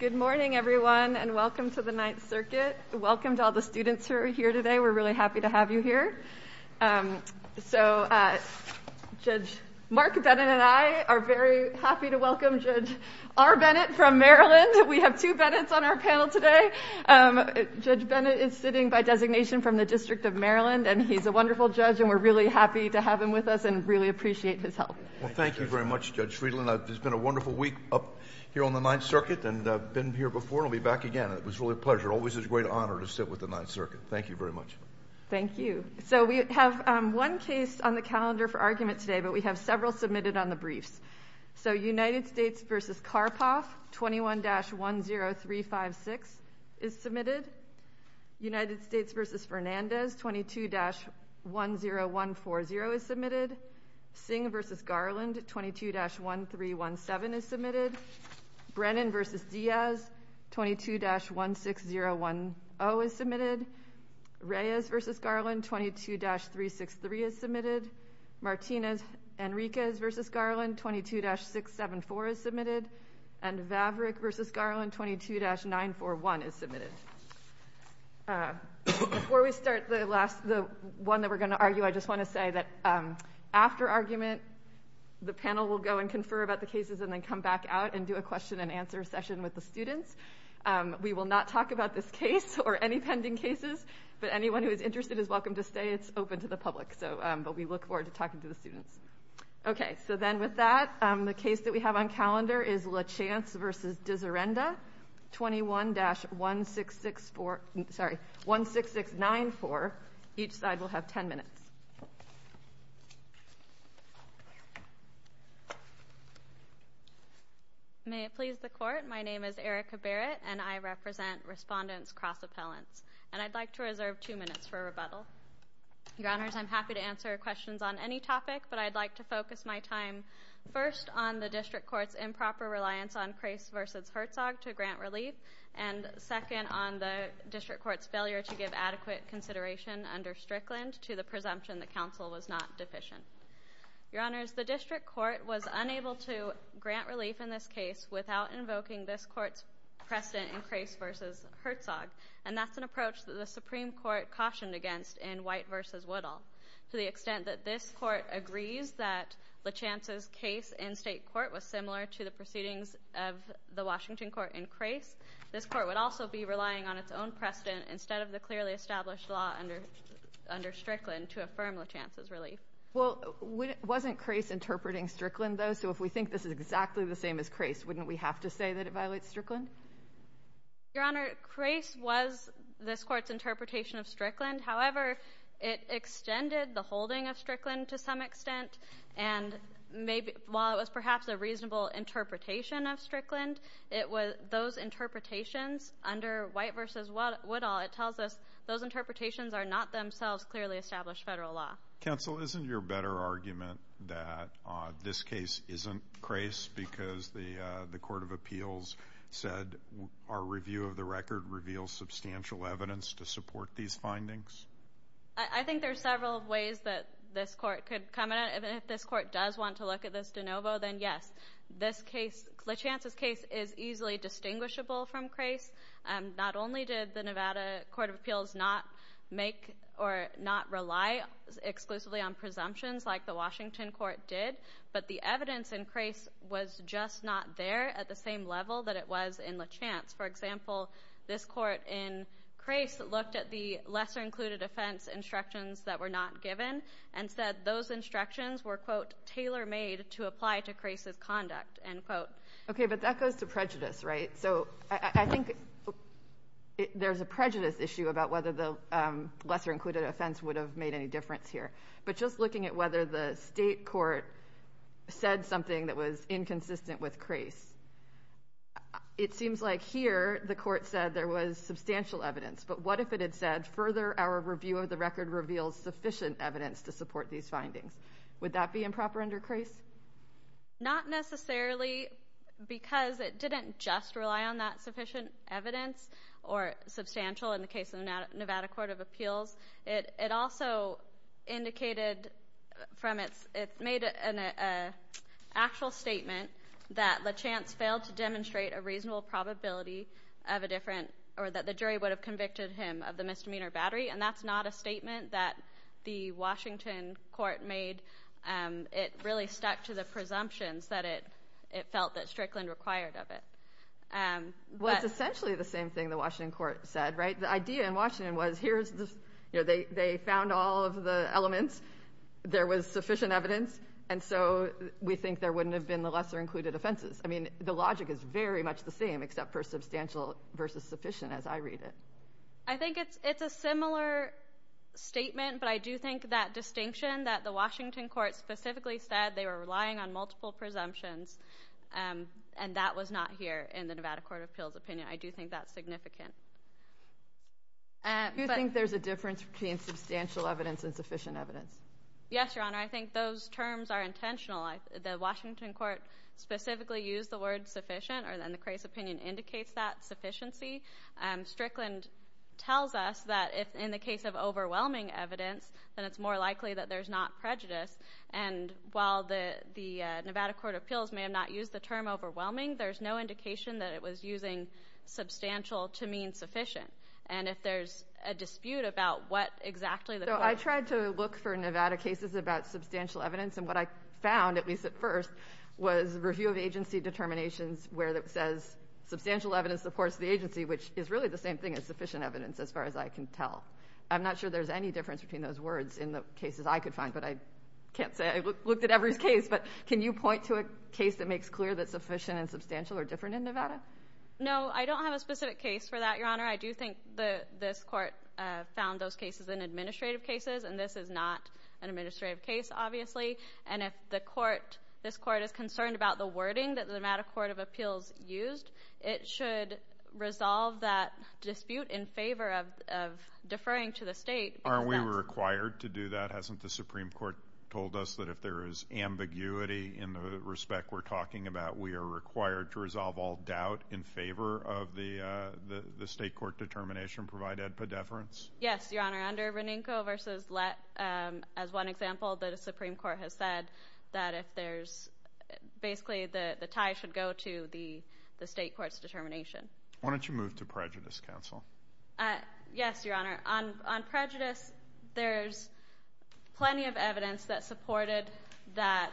Good morning everyone and welcome to the Ninth Circuit. Welcome to all the students who are here today. We're really happy to have you here. So Judge Mark Bennett and I are very happy to welcome Judge R. Bennett from Maryland. We have two Bennett's on our panel today. Judge Bennett is sitting by designation from the District of Maryland and he's a wonderful judge and we're really happy to have him with us and really appreciate his help. Well thank you very much Judge Friedland. It's been a wonderful week up here on the Ninth Circuit and I've been here before and I'll be back again. It was really a pleasure. Always a great honor to sit with the Ninth Circuit. Thank you very much. Thank you. So we have one case on the calendar for argument today but we have several submitted on the briefs. So United States versus Karpov 21-10356 is submitted. United States versus Fernandez 22-10140 is submitted. Singh versus Garland 22-1317 is submitted. Brennan versus Diaz 22-16010 is submitted. Reyes versus Garland 22-363 is submitted. Martinez-Enriquez versus Garland 22-674 is submitted. And Vavrik versus Garland 22-941 is submitted. Before we start the last, the one that we're going to argue, I just want to remind the panel will go and confer about the cases and then come back out and do a question-and-answer session with the students. We will not talk about this case or any pending cases but anyone who is interested is welcome to stay. It's open to the public so but we look forward to talking to the students. Okay so then with that the case that we have on calendar is Lachance versus Dizirenda 21-16694. Each side will have 10 minutes. May it please the court, my name is Erica Barrett and I represent Respondents Cross Appellants and I'd like to reserve two minutes for rebuttal. Your Honors, I'm happy to answer questions on any topic but I'd like to focus my time first on the District Court's improper reliance on Crase versus Herzog to grant relief and second on the District Court's failure to give adequate consideration under Strickland to the presumption the counsel was not deficient. Your Honors, the District Court was unable to grant relief in this case without invoking this court's precedent in Crase versus Herzog and that's an approach that the Supreme Court cautioned against in White versus Woodall. To the extent that this court was similar to the proceedings of the Washington court in Crase, this court would also be relying on its own precedent instead of the clearly established law under Strickland to affirm Lachance's relief. Well wasn't Crase interpreting Strickland though so if we think this is exactly the same as Crase wouldn't we have to say that it violates Strickland? Your Honor, Crase was this court's interpretation of Strickland however it extended the reasonable interpretation of Strickland. It was those interpretations under White versus Woodall, it tells us those interpretations are not themselves clearly established federal law. Counsel, isn't your better argument that this case isn't Crase because the the Court of Appeals said our review of the record reveals substantial evidence to support these findings? I think there are several ways that this court could come at it. If this court does want to look at this case in de novo, then yes. This case, Lachance's case, is easily distinguishable from Crase. Not only did the Nevada Court of Appeals not make or not rely exclusively on presumptions like the Washington court did, but the evidence in Crase was just not there at the same level that it was in Lachance. For example, this court in Crase looked at the lesser included offense instructions that were not given and said those instructions were, quote, tailor-made to apply to Crase's conduct, end quote. Okay, but that goes to prejudice, right? So I think there's a prejudice issue about whether the lesser included offense would have made any difference here, but just looking at whether the state court said something that was inconsistent with Crase, it seems like here the court said there was substantial evidence, but what if it had said, further our review of the record reveals sufficient evidence to support these findings? Would that be improper under Crase? Not necessarily, because it didn't just rely on that sufficient evidence or substantial in the case of Nevada Court of Appeals. It also indicated from its, it made an actual statement that Lachance failed to demonstrate a reasonable probability of a different, or that the jury would have made a different judgment that the Washington court made. It really stuck to the presumptions that it felt that Strickland required of it. Well, it's essentially the same thing the Washington court said, right? The idea in Washington was here's this, you know, they found all of the elements, there was sufficient evidence, and so we think there wouldn't have been the lesser included offenses. I mean, the logic is very much the same, except for I do think that distinction that the Washington court specifically said they were relying on multiple presumptions, and that was not here in the Nevada Court of Appeals opinion. I do think that's significant. Do you think there's a difference between substantial evidence and sufficient evidence? Yes, Your Honor. I think those terms are intentional. The Washington court specifically used the word sufficient, or then the Crase opinion indicates that sufficiency. Strickland tells us that if in the case of overwhelming evidence, then it's more likely that there's not prejudice, and while the Nevada Court of Appeals may have not used the term overwhelming, there's no indication that it was using substantial to mean sufficient, and if there's a dispute about what exactly the I tried to look for Nevada cases about substantial evidence, and what I found, at least at first, was review of agency determinations where it says substantial evidence supports the agency, which is really the same thing as sufficient evidence, as far as I can tell. I'm not sure there's any difference between those words in the cases I could find, but I can't say. I looked at every case, but can you point to a case that makes clear that sufficient and substantial are different in Nevada? No, I don't have a specific case for that, Your Honor. I do think that this court found those cases in administrative cases, and this is not an administrative case, obviously, and if the court, this court is concerned about the wording that the Nevada Court of Appeals is using, it should resolve that dispute in favor of deferring to the state. Aren't we required to do that? Hasn't the Supreme Court told us that if there is ambiguity in the respect we're talking about, we are required to resolve all doubt in favor of the state court determination provided pedeference? Yes, Your Honor. Under Renenko v. Lett, as one example, the Supreme Court has said that if there's, basically, the tie should go to the state court's determination. Why don't you move to prejudice, counsel? Yes, Your Honor. On prejudice, there's plenty of evidence that supported that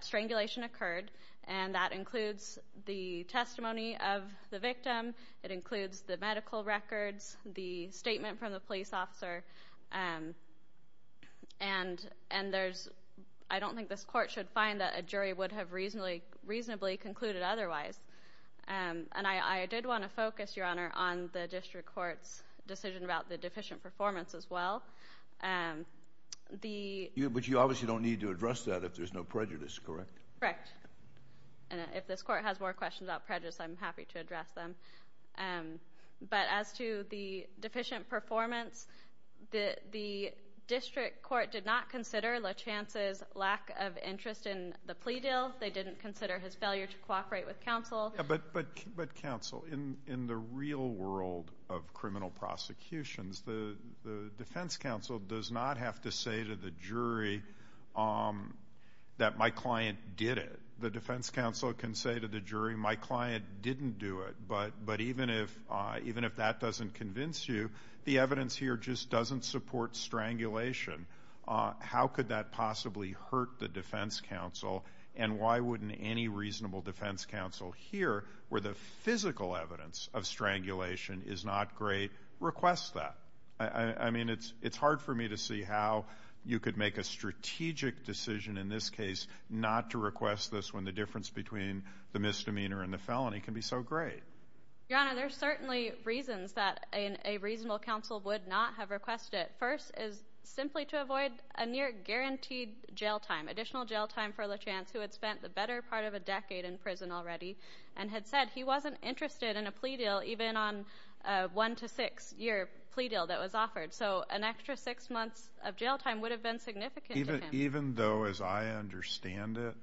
strangulation occurred, and that includes the testimony of the victim. It includes the medical records, the statement from the police officer, and there's... I don't think this court should find that a jury would have reasonably concluded otherwise. And I did want to focus, Your Honor, on the district court's decision about the deficient performance, as well. But you obviously don't need to address that if there's no prejudice, correct? Correct. And if this court has more questions about prejudice, I'm happy to address them. But as to the deficient performance, the district court did not consider Lachance's lack of interest in the plea deal. They didn't consider his failure to cooperate with counsel. But, counsel, in the real world of criminal prosecutions, the defense counsel does not have to say to the jury that my client did it. The defense counsel can say to the jury, my client didn't do it. But even if that doesn't convince you, the evidence here just doesn't support strangulation, how could that possibly hurt the defense counsel? And why wouldn't any reasonable defense counsel here, where the physical evidence of strangulation is not great, request that? I mean, it's hard for me to see how you could make a strategic decision, in this case, not to request this when the difference between the misdemeanor and the felony can be so great. The reason why the reasonable counsel would not have requested it first is simply to avoid a near guaranteed jail time, additional jail time for Lachance, who had spent the better part of a decade in prison already, and had said he wasn't interested in a plea deal, even on a one to six year plea deal that was offered. So an extra six months of jail time would have been significant to him. Even though, as I understand it,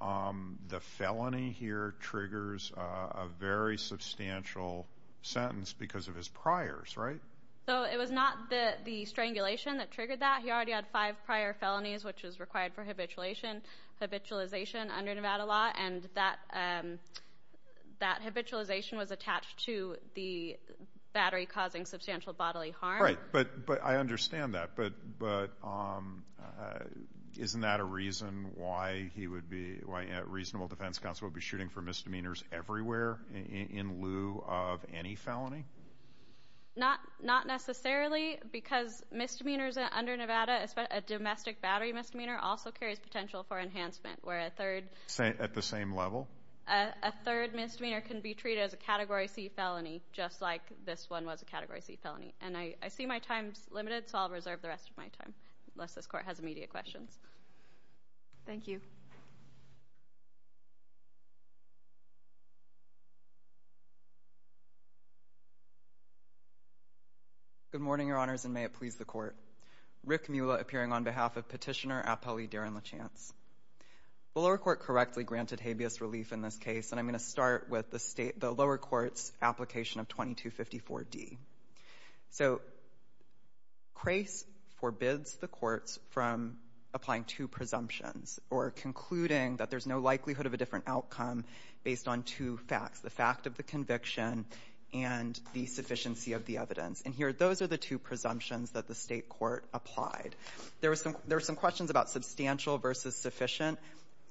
the felony here triggers a very substantial sentence because of his priors, right? So it was not the strangulation that triggered that, he already had five prior felonies, which is required for habitualization under Nevada law, and that habitualization was attached to the battery causing substantial bodily harm. Right, but I understand that, but isn't that a reason why he would be... Why a reasonable defense counsel would be shooting for misdemeanors everywhere in lieu of any felony? Not necessarily, because misdemeanors under Nevada, a domestic battery misdemeanor also carries potential for enhancement, where a third... At the same level? A third misdemeanor can be treated as a Category C felony, just like this one was a Category C felony. And I see my time's limited, so I'll reserve the rest of my time, unless this court has immediate questions. Thank you. Good morning, Your Honors, and may it please the court. Rick Mueller appearing on behalf of Petitioner Apelli Daron Lachance. The lower court correctly granted habeas relief in this case, and I'm gonna start with the state... The lower court's application of 2254D. So, CRACE forbids the courts from applying two presumptions, or concluding that there's no likelihood of a different outcome based on two facts, the fact of the conviction and the sufficiency of the evidence. And here, those are the two presumptions that the state court applied. There were some questions about substantial versus sufficient.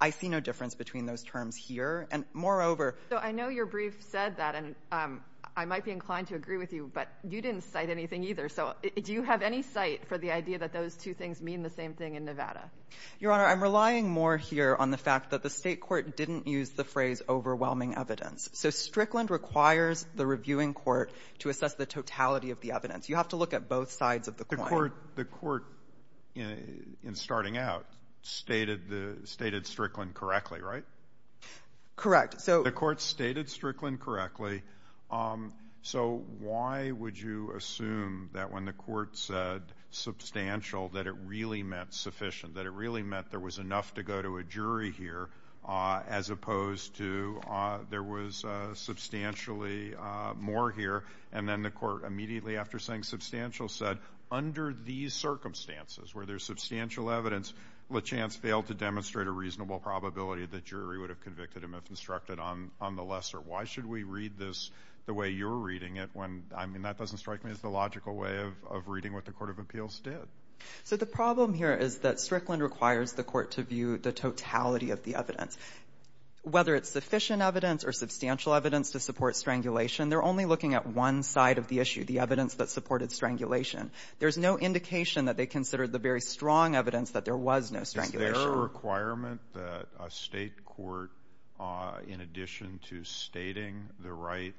I see no difference between those terms here, and moreover... So, I know your brief said that, and I might be inclined to agree with you, but you didn't cite anything either. So, do you have any site for the idea that those two things mean the same thing in Nevada? Your Honor, I'm relying more here on the fact that the state court didn't use the phrase, overwhelming evidence. So, Strickland requires the reviewing court to assess the totality of the evidence. You have to look at both sides of the coin. The court, in starting out, stated the — stated Strickland correctly, right? Correct. So... The court stated Strickland correctly. So, why would you assume that, when the court said substantial, that it really meant sufficient, that it really meant there was enough to go to a jury here, as opposed to there was substantially more here? And then the court, immediately after saying substantial, said, under these circumstances, where there's substantial evidence, LaChance failed to demonstrate a reasonable probability that jury would have convicted him if instructed on the lesser. Why should we read this the way you're reading it, when — I mean, that doesn't strike me as the logical way of reading what the court of appeals did. So the problem here is that Strickland requires the court to view the totality of the evidence. Whether it's sufficient evidence or substantial evidence to support strangulation, they're only looking at one side of the issue, the evidence that supported strangulation. There's no indication that they considered the very strong evidence that there was no strangulation. Is there a requirement that a State court, in addition to stating the right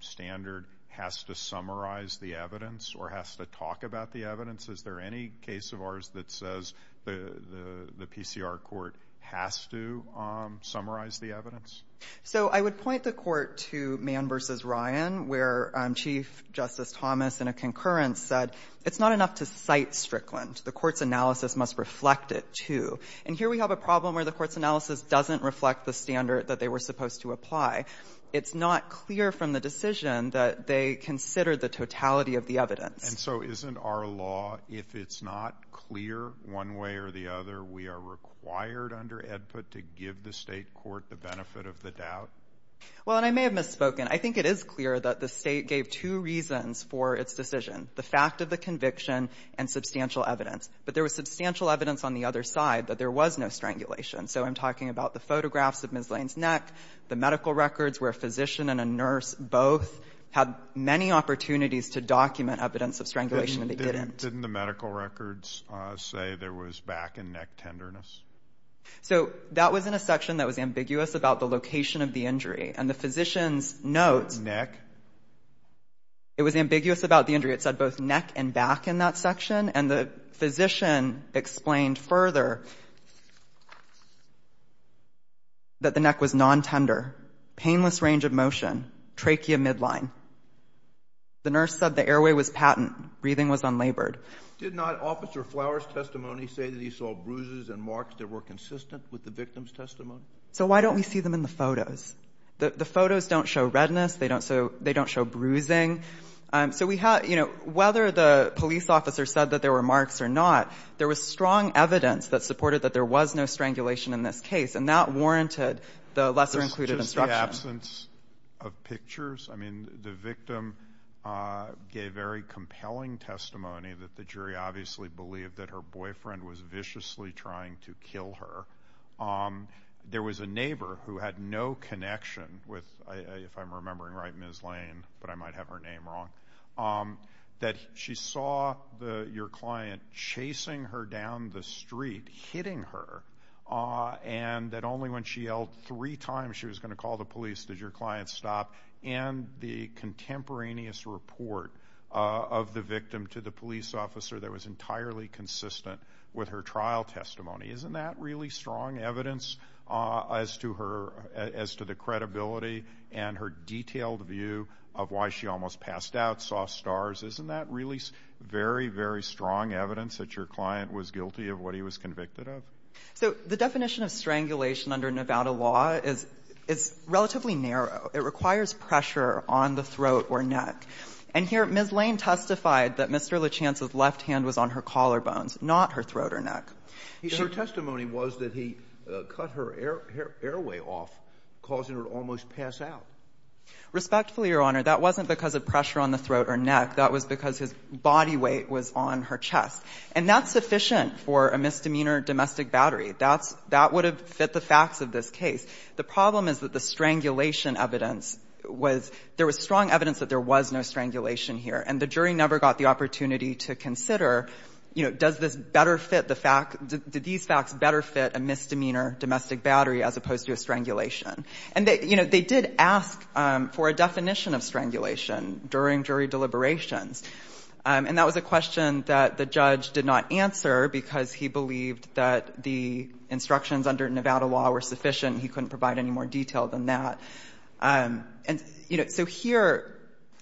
standard, has to summarize the evidence or has to talk about the evidence? Is there any case of ours that says the PCR court has to summarize the evidence? So I would point the court to Mann v. Ryan, where Chief Justice Thomas in a concurrence said, it's not enough to cite Strickland. The court's analysis must reflect it, too. And here we have a problem where the court's analysis doesn't reflect the standard that they were supposed to apply. It's not clear from the decision that they considered the totality of the evidence. And so isn't our law, if it's not clear one way or the other, we are required under Edput to give the State court the benefit of the doubt? Well, and I may have misspoken. I think it is clear that the State gave two reasons for its decision, the fact of the conviction and substantial evidence. But there was substantial evidence on the other side that there was no strangulation. So I'm talking about the photographs of Ms. Lane's neck, the medical records where a physician and a nurse both had many opportunities to document evidence of strangulation, and they didn't. Didn't the medical records say there was back and neck tenderness? So that was in a section that was ambiguous about the location of the injury. And the physician's notes Neck? It was ambiguous about the injury. It said both neck and back in that section. And the nurse said that the neck was non-tender, painless range of motion, trachea midline. The nurse said the airway was patent, breathing was unlabored. Did not Officer Flowers' testimony say that he saw bruises and marks that were consistent with the victim's testimony? So why don't we see them in the photos? The photos don't show redness. They don't show bruising. So we have, you know, whether the police officer said that there were marks or not, there was strong evidence that supported that there was no strangulation in this case. And that warranted the lesser-included instruction. Just the absence of pictures? I mean, the victim gave very compelling testimony that the jury obviously believed that her boyfriend was viciously trying to kill her. There was a neighbor who had no connection with, if I'm remembering right, Ms. Lane, but I might her down the street, hitting her. And that only when she yelled three times she was going to call the police did your client stop. And the contemporaneous report of the victim to the police officer that was entirely consistent with her trial testimony. Isn't that really strong evidence as to her, as to the credibility and her detailed view of why she almost passed out, saw stars? Isn't that really very, very strong evidence that your client was guilty of what he was convicted of? So the definition of strangulation under Nevada law is relatively narrow. It requires pressure on the throat or neck. And here, Ms. Lane testified that Mr. Lachance's left hand was on her collarbones, not her throat or neck. Her testimony was that he cut her airway off, causing her to almost pass out. Respectfully, Your Honor, that wasn't because of pressure on the throat or neck. That was because his body weight was on her chest. And that's sufficient for a misdemeanor domestic battery. That's – that would have fit the facts of this case. The problem is that the strangulation evidence was – there was strong evidence that there was no strangulation here. And the jury never got the opportunity to consider, you know, does this better fit the fact – did these facts better fit a misdemeanor domestic battery as opposed to a strangulation? And they – you know, they did ask for a definition of strangulation during jury deliberations. And that was a question that the judge did not answer because he believed that the instructions under Nevada law were sufficient. He couldn't provide any more detail than that. And you know, so here,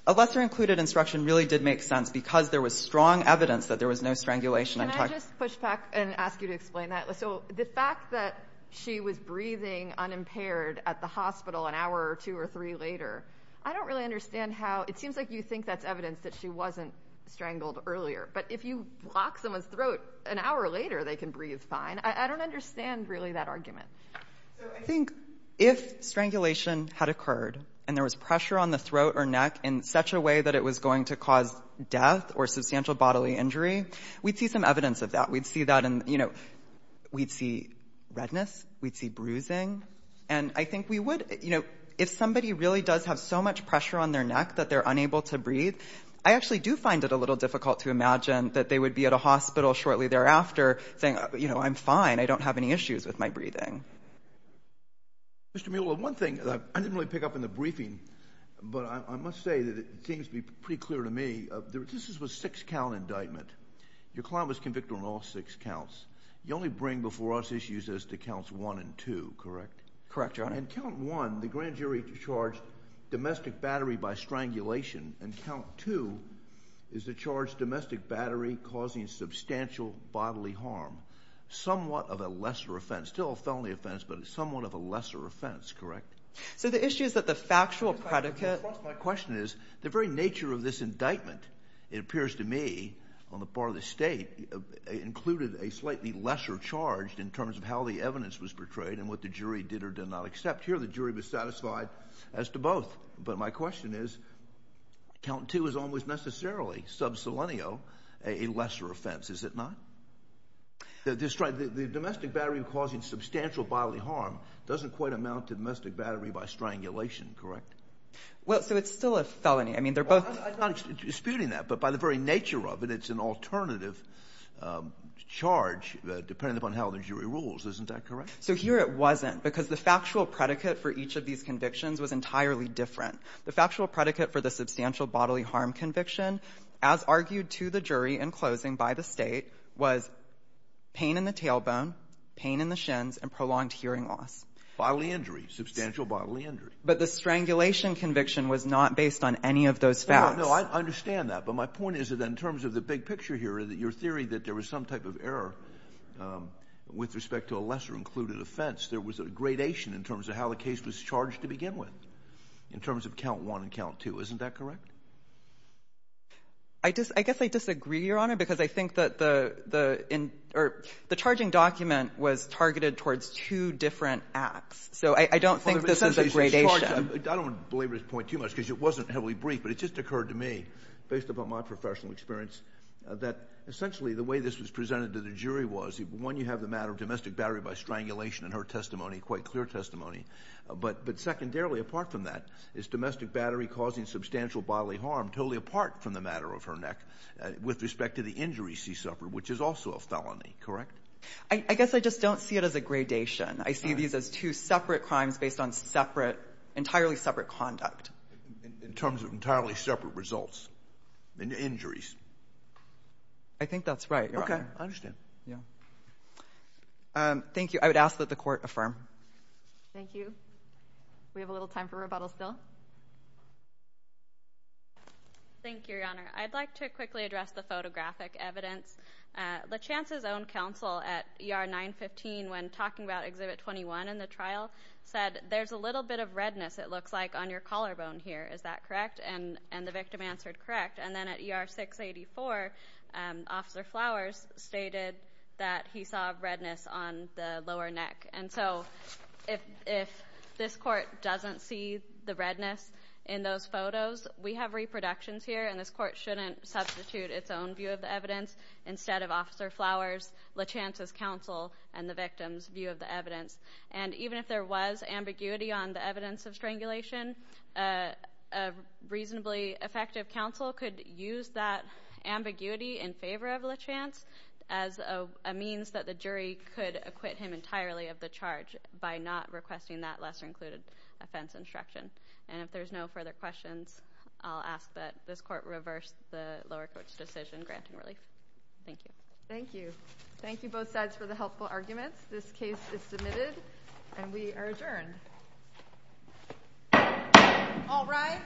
a lesser-included instruction really did make sense because there was strong evidence that there was no strangulation – Can I just push back and ask you to explain that? So the fact that she was breathing unimpaired at the hospital an hour or two or three later, I don't really understand how – it seems like you think that's evidence that she wasn't strangled earlier. But if you block someone's throat an hour later, they can breathe fine. I don't understand really that argument. So I think if strangulation had occurred and there was pressure on the throat or neck in such a way that it was going to cause death or substantial bodily injury, we'd see some evidence of that. We'd see that in – you know, we'd see redness. We'd see bruising. And I think we would – you know, if somebody really does have so much pressure on their neck that they're unable to breathe, I actually do find it a little difficult to imagine that they would be at a hospital shortly thereafter saying, you know, I'm fine, I don't have any issues with my breathing. Mr. Mueller, one thing – I didn't really pick up in the briefing, but I must say that it seems to be pretty clear to me, this was a six-count indictment. Your client was convicted on all six counts. You only bring before us issues as to counts one and two, correct? Correct, Your Honor. And count one, the grand jury charged domestic battery by strangulation, and count two is to charge domestic battery causing substantial bodily harm, somewhat of a lesser offense. Still a felony offense, but somewhat of a lesser offense, correct? So the issue is that the factual predicate – My question is, the very nature of this indictment, it appears to me, on the part of the State, it included a slightly lesser charge in terms of how the evidence was portrayed and what the jury did or did not accept. Here, the jury was satisfied as to both. But my question is, count two is almost necessarily, sub selenio, a lesser offense, is it not? The domestic battery causing substantial bodily harm doesn't quite amount to domestic battery by strangulation, correct? Well, so it's still a felony. I mean, they're both – I'm not disputing that, but by the very nature of it, it's an alternative charge, depending upon how the jury rules. Isn't that correct? So here it wasn't, because the factual predicate for each of these convictions was entirely different. The factual predicate for the substantial bodily harm conviction, as argued to the jury in closing by the State, was pain in the tailbone, pain in the shins, and prolonged hearing loss. Bodily injury, substantial bodily injury. But the strangulation conviction was not based on any of those facts. No, I understand that. But my point is that in terms of the big picture here, your theory that there was some type of error with respect to a lesser-included offense, there was a gradation in terms of how the case was charged to begin with, in terms of count one and count two. Isn't that correct? I guess I disagree, Your Honor, because I think that the – or the charging document was targeted towards two different acts. So I don't think this is a gradation. I don't believe this point too much, because it wasn't heavily briefed, but it just occurred to me, based upon my professional experience, that essentially the way this was presented to the jury was, one, you have the matter of domestic battery by strangulation in her testimony, quite clear testimony. But secondarily, apart from that, is domestic battery causing substantial bodily harm totally apart from the matter of her neck with respect to the injuries she suffered, which is also a felony, correct? I guess I just don't see it as a gradation. I see these as two separate crimes based on separate – entirely separate conduct. In terms of entirely separate results in the injuries. I think that's right, Your Honor. Okay. I understand. Yeah. Thank you. I would ask that the Court affirm. Thank you. We have a little time for rebuttals still. Thank you, Your Honor. I'd like to quickly address the photographic evidence. LaChance's own counsel at ER 915, when talking about Exhibit 21 in the trial, said, there's a little bit of redness, it looks like, on your collarbone here. Is that correct? And the victim answered, correct. And then at ER 684, Officer Flowers stated that he saw redness on the lower neck. And so if this Court doesn't see the redness in those photos, we have reproductions here, and this Court shouldn't substitute its own view of the evidence instead of Officer Flowers, LaChance's counsel, and the victim's view of the evidence. And even if there was ambiguity on the evidence of strangulation, a reasonably effective counsel could use that ambiguity in favor of LaChance as a means that the jury could acquit him entirely of the charge by not requesting that lesser-included offense instruction. And if there's no further questions, I'll ask that this Court reverse the lower court's decision granting relief. Thank you. Thank you. Thank you both sides for the helpful arguments. This case is submitted, and we are adjourned. All rise.